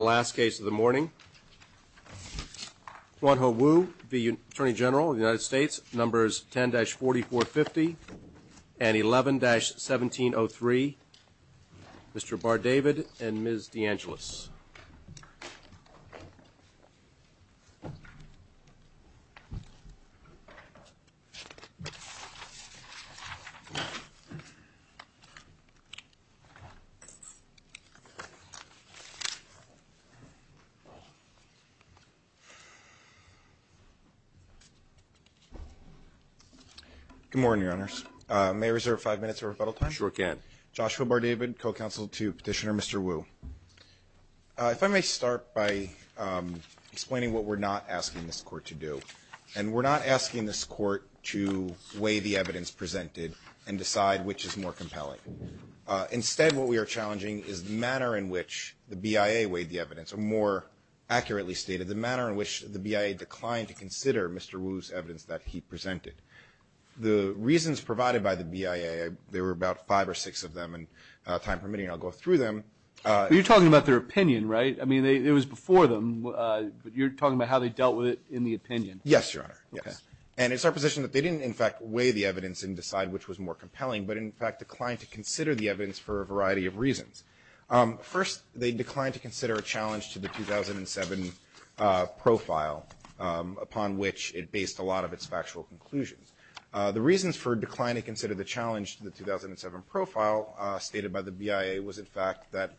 of the United States, Numbers 10-4450 and 11-1703, Mr. Bar-David and Ms. DeAngelis. Good morning, Your Honors. May I reserve five minutes of rebuttal time? Sure can. Joshua Bar-David, co-counsel to Petitioner Mr. Wu. If I may start by explaining what we're not asking this Court to do. And we're not asking this Court to weigh the evidence presented and decide which is more compelling. Instead, what we are challenging is the manner in which the BIA weighed the evidence, or more accurately stated, the manner in which the BIA declined to consider Mr. Wu's evidence that he presented. The reasons provided by the BIA, there were about five or six of them, and time permitting, I'll go through them. You're talking about their opinion, right? I mean, it was before them, but you're talking about how they dealt with it in the opinion. Yes, Your Honor, yes. And it's our position that they didn't in fact weigh the evidence and decide which was more compelling, but in fact declined to consider the evidence for a variety of reasons. First, they declined to consider a challenge to the 2007 profile, upon which it based a lot of its factual conclusions. The reasons for declining to consider the challenge to the 2007 profile stated by the BIA was, in fact, that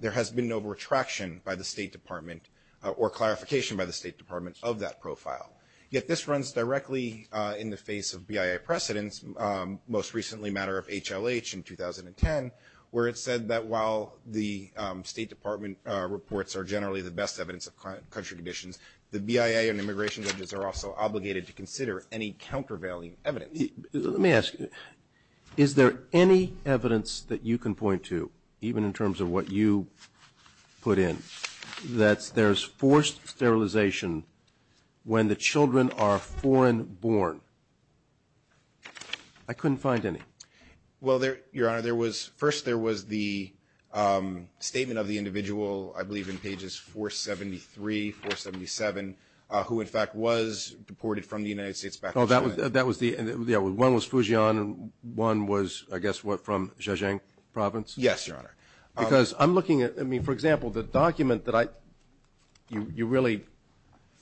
there has been no retraction by the State Department or clarification by the State Department of that profile. Yet this runs directly in the face of BIA precedence, most recently a matter of HLH in 2010, where it said that while the State Department reports are generally the best evidence of country conditions, the BIA and immigration judges are also obligated to consider any countervailing evidence. Let me ask you, is there any evidence that you can point to, even in terms of what you put in, that there's forced sterilization when the children are foreign born? I couldn't find any. Well, Your Honor, first there was the statement of the individual, I believe in pages 473, 477, who in fact was deported from the United States back to China. Oh, that was the, yeah, one was Fujian and one was, I guess, what, from Zhejiang Province? Yes, Your Honor. Because I'm looking at, I mean, for example, the document that you really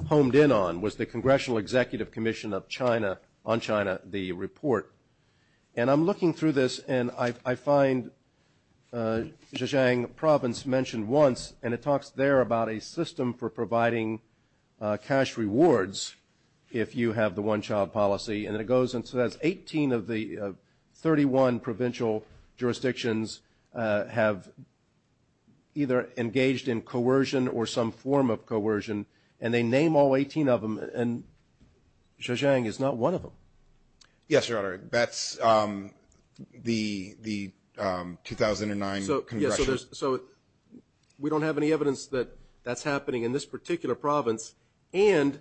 honed in on was the Congressional Executive Commission on China, the report. And I'm looking through this, and I find Zhejiang Province mentioned once, and it talks there about a system for providing cash rewards if you have the one-child policy. And it goes and says 18 of the 31 provincial jurisdictions have either engaged in coercion or some form of coercion, and they name all 18 of them, and Zhejiang is not one of them. Yes, Your Honor. That's the 2009 Congressional. So we don't have any evidence that that's happening in this particular province, and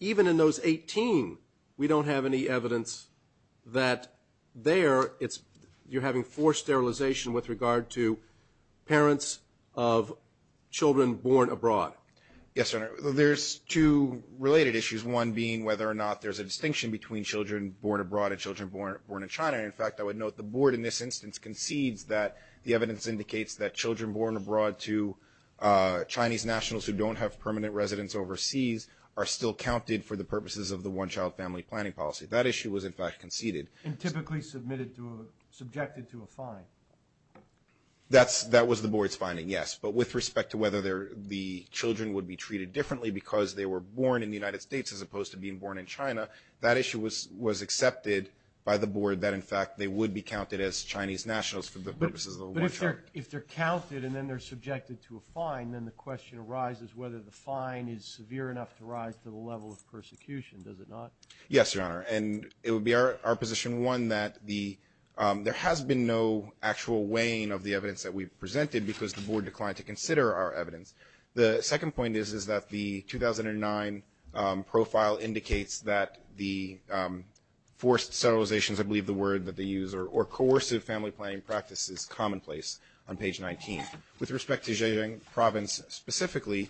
even in those 18 we don't have any evidence that there you're having forced sterilization with regard to parents of children born abroad. Yes, Your Honor. There's two related issues, one being whether or not there's a distinction between children born abroad and children born in China. And, in fact, I would note the board in this instance concedes that the evidence indicates that children born abroad to Chinese nationals who don't have permanent residence overseas are still counted for the purposes of the one-child family planning policy. That issue was, in fact, conceded. And typically subjected to a fine. That was the board's finding, yes. But with respect to whether the children would be treated differently because they were born in the United States as opposed to being born in China, that issue was accepted by the board that, in fact, they would be counted as Chinese nationals for the purposes of the one-child. But if they're counted and then they're subjected to a fine, then the question arises whether the fine is severe enough to rise to the level of persecution. Does it not? Yes, Your Honor. And it would be our position, one, that there has been no actual weighing of the evidence that we've presented because the board declined to consider our evidence. The second point is that the 2009 profile indicates that the forced settlizations, I believe the word that they use, or coercive family planning practice is commonplace on page 19. With respect to Zhejiang province specifically,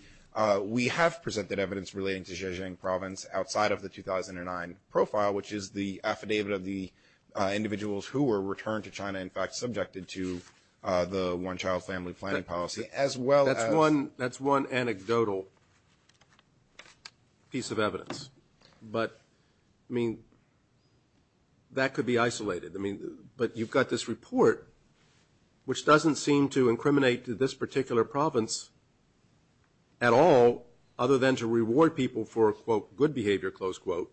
we have presented evidence relating to Zhejiang province outside of the 2009 profile, which is the affidavit of the individuals who were returned to China, in fact, subjected to the one-child family planning policy as well as. That's one anecdotal piece of evidence. But, I mean, that could be isolated. I mean, but you've got this report, which doesn't seem to incriminate this particular province at all, other than to reward people for, quote, good behavior, close quote.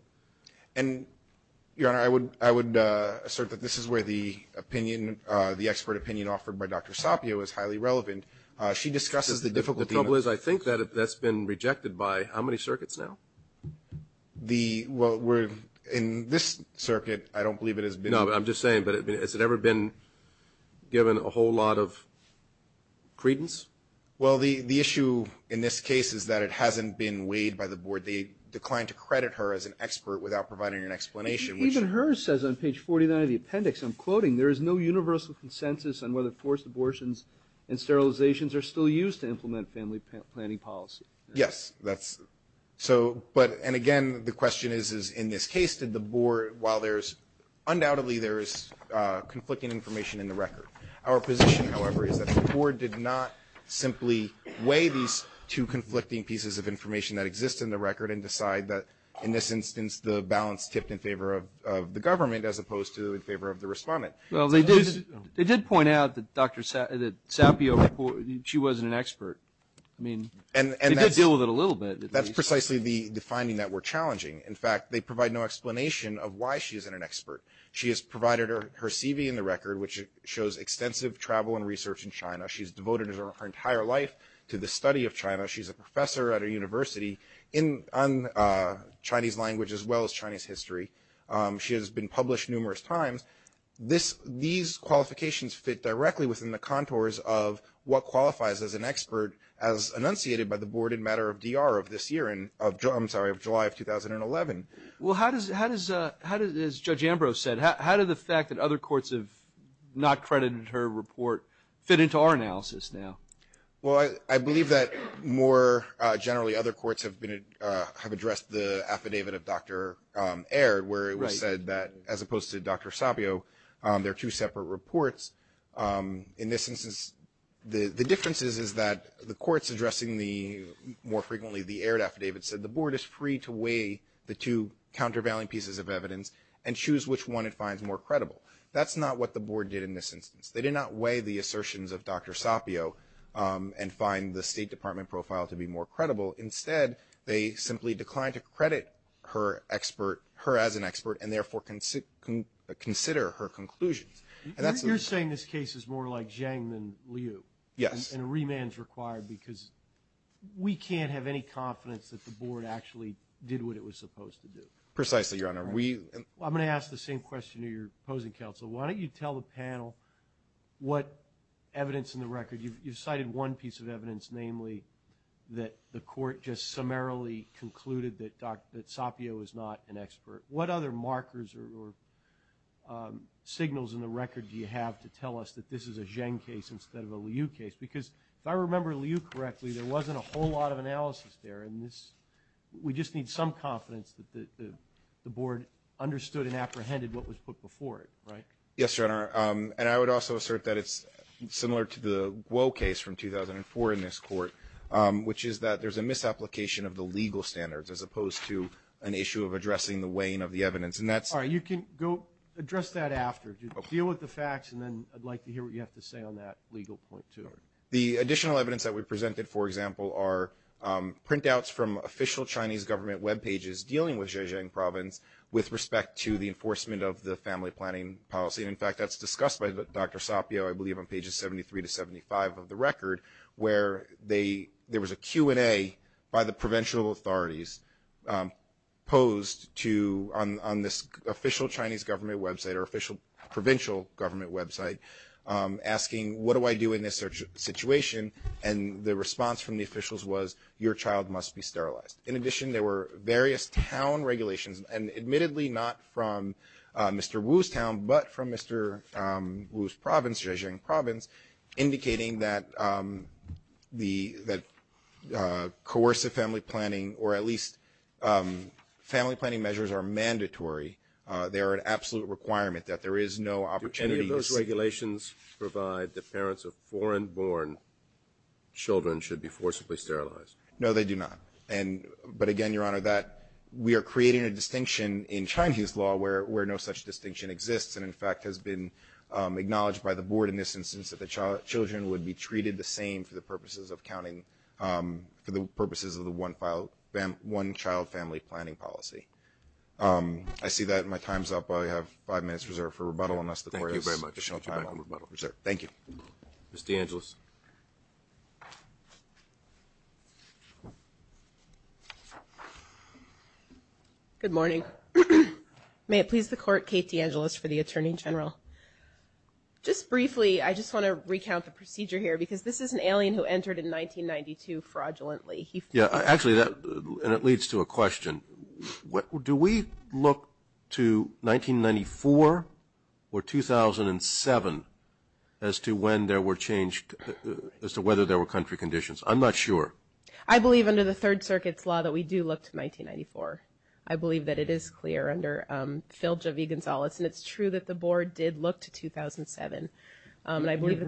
And, Your Honor, I would assert that this is where the opinion, the expert opinion offered by Dr. Sapio is highly relevant. She discusses the difficulty. The trouble is I think that that's been rejected by how many circuits now? The, well, we're, in this circuit, I don't believe it has been. No, but I'm just saying, but has it ever been given a whole lot of credence? Well, the issue in this case is that it hasn't been weighed by the board. They declined to credit her as an expert without providing an explanation. Even hers says on page 49 of the appendix, I'm quoting, there is no universal consensus on whether forced abortions and sterilizations are still used to implement family planning policy. Yes, that's, so, but, and again, the question is, is in this case, did the board, while there's, undoubtedly there is conflicting information in the record. Our position, however, is that the board did not simply weigh these two conflicting pieces of information that exist in the record and decide that, in this instance, the balance tipped in favor of the government as opposed to in favor of the respondent. Well, they did point out that Dr. Sapio, she wasn't an expert. I mean, they did deal with it a little bit. That's precisely the finding that we're challenging. In fact, they provide no explanation of why she isn't an expert. She has provided her CV in the record, which shows extensive travel and research in China. She's devoted her entire life to the study of China. She's a professor at a university on Chinese language as well as Chinese history. She has been published numerous times. These qualifications fit directly within the contours of what qualifies as an expert, as enunciated by the board in matter of DR of this year, I'm sorry, of July of 2011. Well, how does, as Judge Ambrose said, how did the fact that other courts have not credited her report fit into our analysis now? Well, I believe that more generally other courts have addressed the affidavit of Dr. Aird, where it was said that as opposed to Dr. Sapio, there are two separate reports. In this instance, the difference is that the courts addressing the more frequently the Aird affidavit said the board is free to weigh the two countervailing pieces of evidence and choose which one it finds more credible. That's not what the board did in this instance. They did not weigh the assertions of Dr. Sapio and find the State Department profile to be more credible. Instead, they simply declined to credit her as an expert and therefore consider her conclusions. You're saying this case is more like Zhang than Liu. Yes. And a remand is required because we can't have any confidence that the board actually did what it was supposed to do. Precisely, Your Honor. I'm going to ask the same question to your opposing counsel. Why don't you tell the panel what evidence in the record? You've cited one piece of evidence, namely that the court just summarily concluded that Sapio is not an expert. What other markers or signals in the record do you have to tell us that this is a Zhang case instead of a Liu case? Because if I remember Liu correctly, there wasn't a whole lot of analysis there. We just need some confidence that the board understood and apprehended what was put before it, right? Yes, Your Honor. And I would also assert that it's similar to the Guo case from 2004 in this court, which is that there's a misapplication of the legal standards as opposed to an issue of addressing the weighing of the evidence. All right. You can go address that after. Deal with the facts and then I'd like to hear what you have to say on that legal point, too. The additional evidence that we presented, for example, are printouts from official Chinese government webpages dealing with Zhejiang province with respect to the enforcement of the family planning policy. In fact, that's discussed by Dr. Sapio, I believe, on pages 73 to 75 of the record, where there was a Q&A by the provincial authorities posed on this official Chinese government website or official provincial government website asking, what do I do in this situation? And the response from the officials was, your child must be sterilized. In addition, there were various town regulations, and admittedly not from Mr. Wu's town, but from Mr. Wu's province, Zhejiang province, indicating that coercive family planning, or at least family planning measures are mandatory. They are an absolute requirement that there is no opportunity to see. Do any of those regulations provide that parents of foreign-born children should be forcibly sterilized? No, they do not. But again, Your Honor, we are creating a distinction in Chinese law where no such distinction exists and, in fact, has been acknowledged by the board in this instance that the children would be treated the same for the purposes of counting, for the purposes of the one-child family planning policy. I see that. My time is up. I have five minutes reserved for rebuttal. Thank you very much. Thank you. Ms. DeAngelis. Good morning. May it please the Court, Kate DeAngelis for the Attorney General. Just briefly, I just want to recount the procedure here because this is an alien who entered in 1992 fraudulently. Actually, that leads to a question. Do we look to 1994 or 2007 as to when there were changed, as to whether there were country conditions? I'm not sure. I believe under the Third Circuit's law that we do look to 1994. I believe that it is clear under Filch v. Gonzales, and it's true that the board did look to 2007. I believe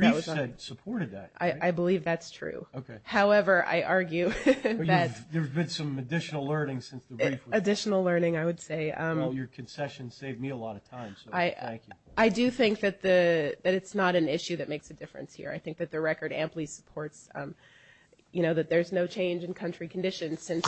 that's true. However, I argue that there's been some additional learning since the brief. Additional learning, I would say. Your concession saved me a lot of time, so thank you. I do think that it's not an issue that makes a difference here. I think that the record amply supports that there's no change in country conditions since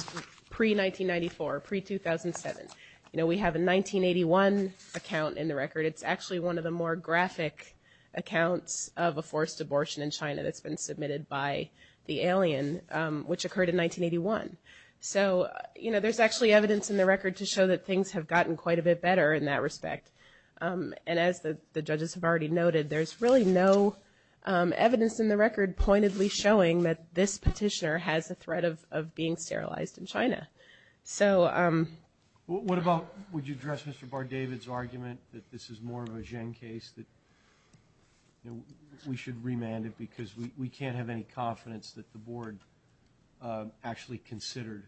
pre-1994, pre-2007. We have a 1981 account in the record. It's actually one of the more graphic accounts of a forced abortion in China that's been submitted by the alien, which occurred in 1981. So, you know, there's actually evidence in the record to show that things have gotten quite a bit better in that respect. And as the judges have already noted, there's really no evidence in the record pointedly showing that this petitioner has a threat of being sterilized in China. What about, would you address Mr. Bardavid's argument that this is more of a Zheng case, that we should remand it because we can't have any confidence that the board actually considered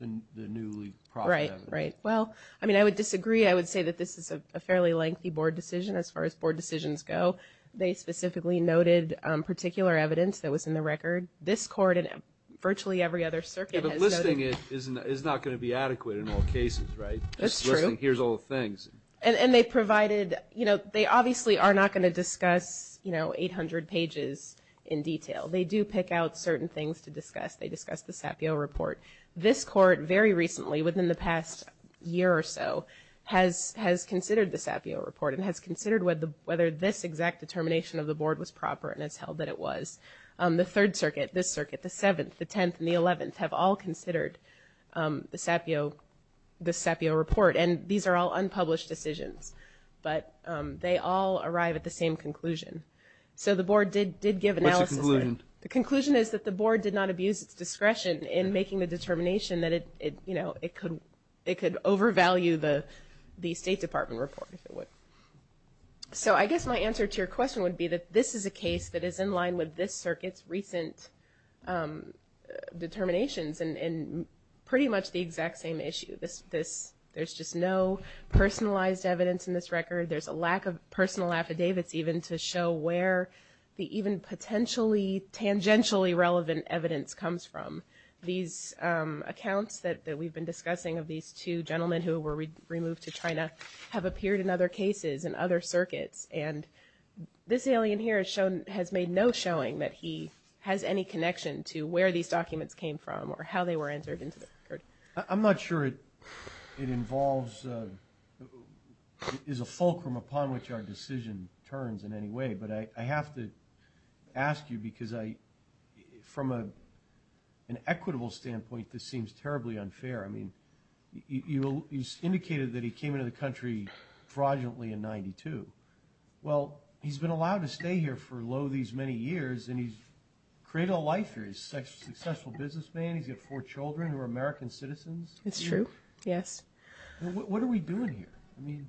the newly processed evidence? Right, right. Well, I mean, I would disagree. I would say that this is a fairly lengthy board decision as far as board decisions go. They specifically noted particular evidence that was in the record. This court and virtually every other circuit has noted. And listing it is not going to be adequate in all cases, right? That's true. Listing here's all the things. And they provided, you know, they obviously are not going to discuss, you know, 800 pages in detail. They do pick out certain things to discuss. They discuss the Sapio report. This court very recently, within the past year or so, has considered the Sapio report and has considered whether this exact determination of the board was proper, and it's held that it was. The Third Circuit, this circuit, the Seventh, the Tenth, and the Eleventh have all considered the Sapio report. And these are all unpublished decisions. But they all arrive at the same conclusion. So the board did give analysis. What's the conclusion? The conclusion is that the board did not abuse its discretion in making the determination that it, you know, it could overvalue the State Department report, if it would. So I guess my answer to your question would be that this is a case that is in line with this circuit's recent determinations and pretty much the exact same issue. There's just no personalized evidence in this record. There's a lack of personal affidavits even to show where the even potentially tangentially relevant evidence comes from. These accounts that we've been discussing of these two gentlemen who were removed to China have appeared in other cases and other circuits, and this alien here has made no showing that he has any connection to where these documents came from or how they were entered into the record. I'm not sure it involves, is a fulcrum upon which our decision turns in any way. But I have to ask you because I, from an equitable standpoint, this seems terribly unfair. I mean, you indicated that he came into the country fraudulently in 92. Well, he's been allowed to stay here for lo these many years, and he's created a life here. He's a successful businessman. He's got four children who are American citizens. It's true, yes. What are we doing here? I mean.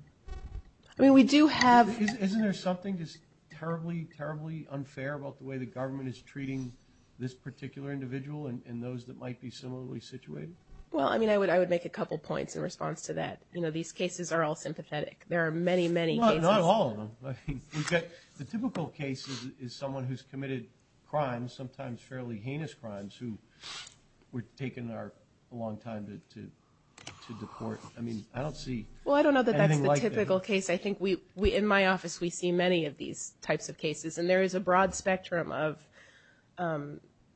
I mean, we do have. Isn't there something just terribly, terribly unfair about the way the government is treating this particular individual and those that might be similarly situated? Well, I mean, I would make a couple points in response to that. You know, these cases are all sympathetic. There are many, many cases. Well, not all of them. The typical case is someone who's committed crimes, sometimes fairly heinous crimes, who were taken a long time to deport. I mean, I don't see anything like that. Well, I don't know that that's the typical case. I think in my office we see many of these types of cases, and there is a broad spectrum of,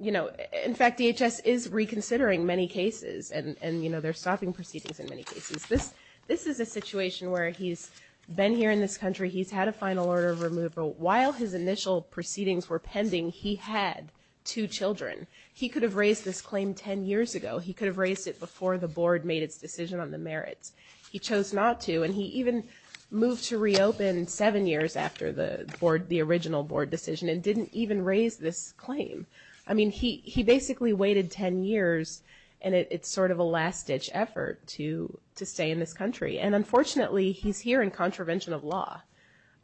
you know. In fact, DHS is reconsidering many cases, and, you know, they're stopping proceedings in many cases. This is a situation where he's been here in this country. He's had a final order of removal. While his initial proceedings were pending, he had two children. He could have raised this claim 10 years ago. He could have raised it before the board made its decision on the merits. He chose not to, and he even moved to reopen seven years after the original board decision and didn't even raise this claim. I mean, he basically waited 10 years, and it's sort of a last-ditch effort to stay in this country. And, unfortunately, he's here in contravention of law.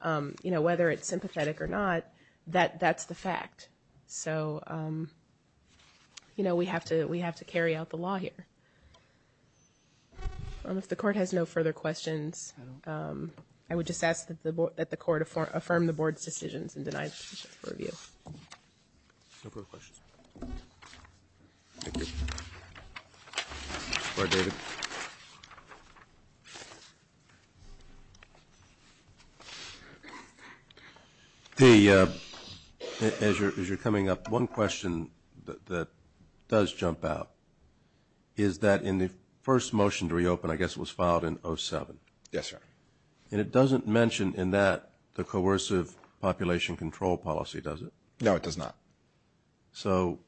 You know, whether it's sympathetic or not, that's the fact. So, you know, we have to carry out the law here. If the court has no further questions, I would just ask that the court affirm the board's decisions and deny the position for review. No further questions. Thank you. Mr. Clark, David. As you're coming up, one question that does jump out is that in the first motion to reopen, I guess it was filed in 07. Yes, sir. And it doesn't mention in that the coercive population control policy, does it? No, it does not. So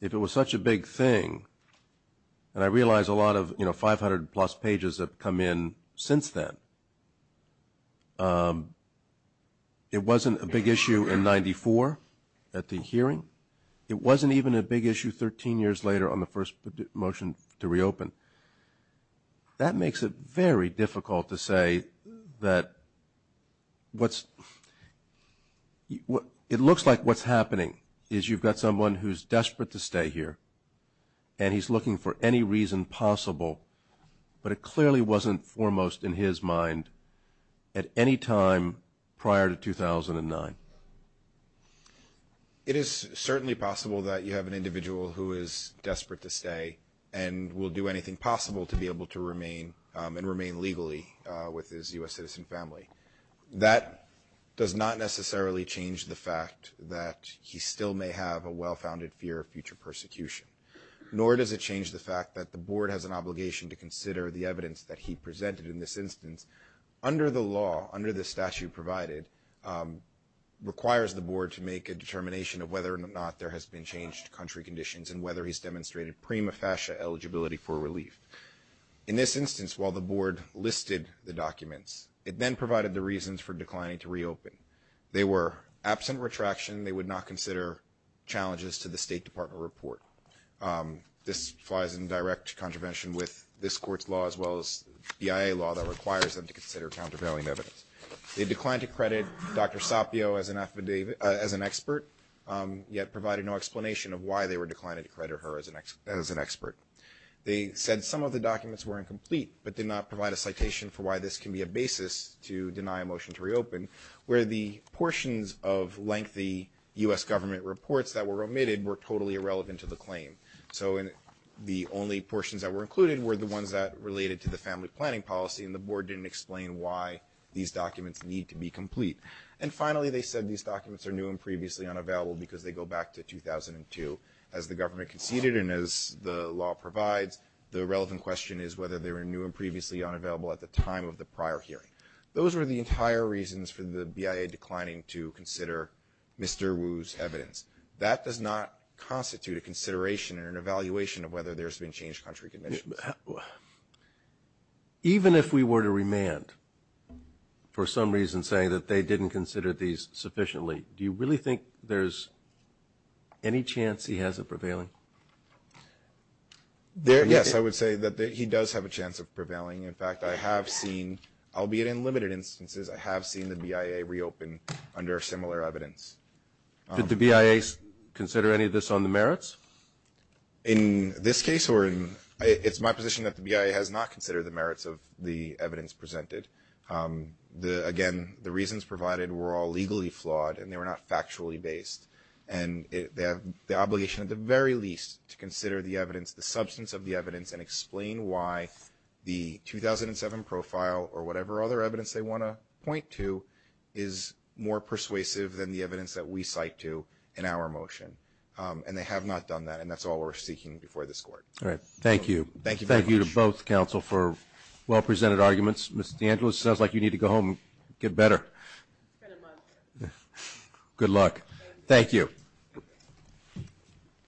if it was such a big thing, and I realize a lot of, you know, 500-plus pages have come in since then, it wasn't a big issue in 94 at the hearing. It wasn't even a big issue 13 years later on the first motion to reopen. That makes it very difficult to say that what's – it looks like what's happening is you've got someone who's desperate to stay here, and he's looking for any reason possible, but it clearly wasn't foremost in his mind at any time prior to 2009. It is certainly possible that you have an individual who is desperate to stay and will do anything possible to be able to remain and remain legally with his U.S. citizen family. That does not necessarily change the fact that he still may have a well-founded fear of future persecution, nor does it change the fact that the board has an obligation to consider the evidence that he presented in this instance. Under the law, under the statute provided, requires the board to make a determination of whether or not there has been changed country conditions and whether he's demonstrated prima facie eligibility for relief. In this instance, while the board listed the documents, it then provided the reasons for declining to reopen. They were absent retraction. They would not consider challenges to the State Department report. This flies in direct contravention with this court's law as well as BIA law that requires them to consider countervailing evidence. They declined to credit Dr. Sapio as an expert, yet provided no explanation of why they were declining to credit her as an expert. They said some of the documents were incomplete, but did not provide a citation for why this can be a basis to deny a motion to reopen, where the portions of lengthy U.S. government reports that were omitted were totally irrelevant to the claim. So the only portions that were included were the ones that related to the family planning policy, and the board didn't explain why these documents need to be complete. And finally, they said these documents are new and previously unavailable because they go back to 2002. As the government conceded and as the law provides, the relevant question is whether they were new and previously unavailable at the time of the prior hearing. Those were the entire reasons for the BIA declining to consider Mr. Wu's evidence. That does not constitute a consideration or an evaluation of whether there's been changed country conditions. Even if we were to remand for some reason saying that they didn't consider these sufficiently, do you really think there's any chance he has of prevailing? Yes, I would say that he does have a chance of prevailing. In fact, I have seen, albeit in limited instances, I have seen the BIA reopen under similar evidence. Did the BIA consider any of this on the merits? In this case, it's my position that the BIA has not considered the merits of the evidence presented. Again, the reasons provided were all legally flawed and they were not factually based, and they have the obligation at the very least to consider the evidence, the substance of the evidence, and explain why the 2007 profile or whatever other evidence they want to point to is more persuasive than the evidence that we cite to in our motion. And they have not done that, and that's all we're seeking before this Court. All right. Thank you. Thank you very much. Thank you to both counsel for well-presented arguments. Ms. DeAngelis, it sounds like you need to go home and get better. It's been a month. Good luck. Thank you.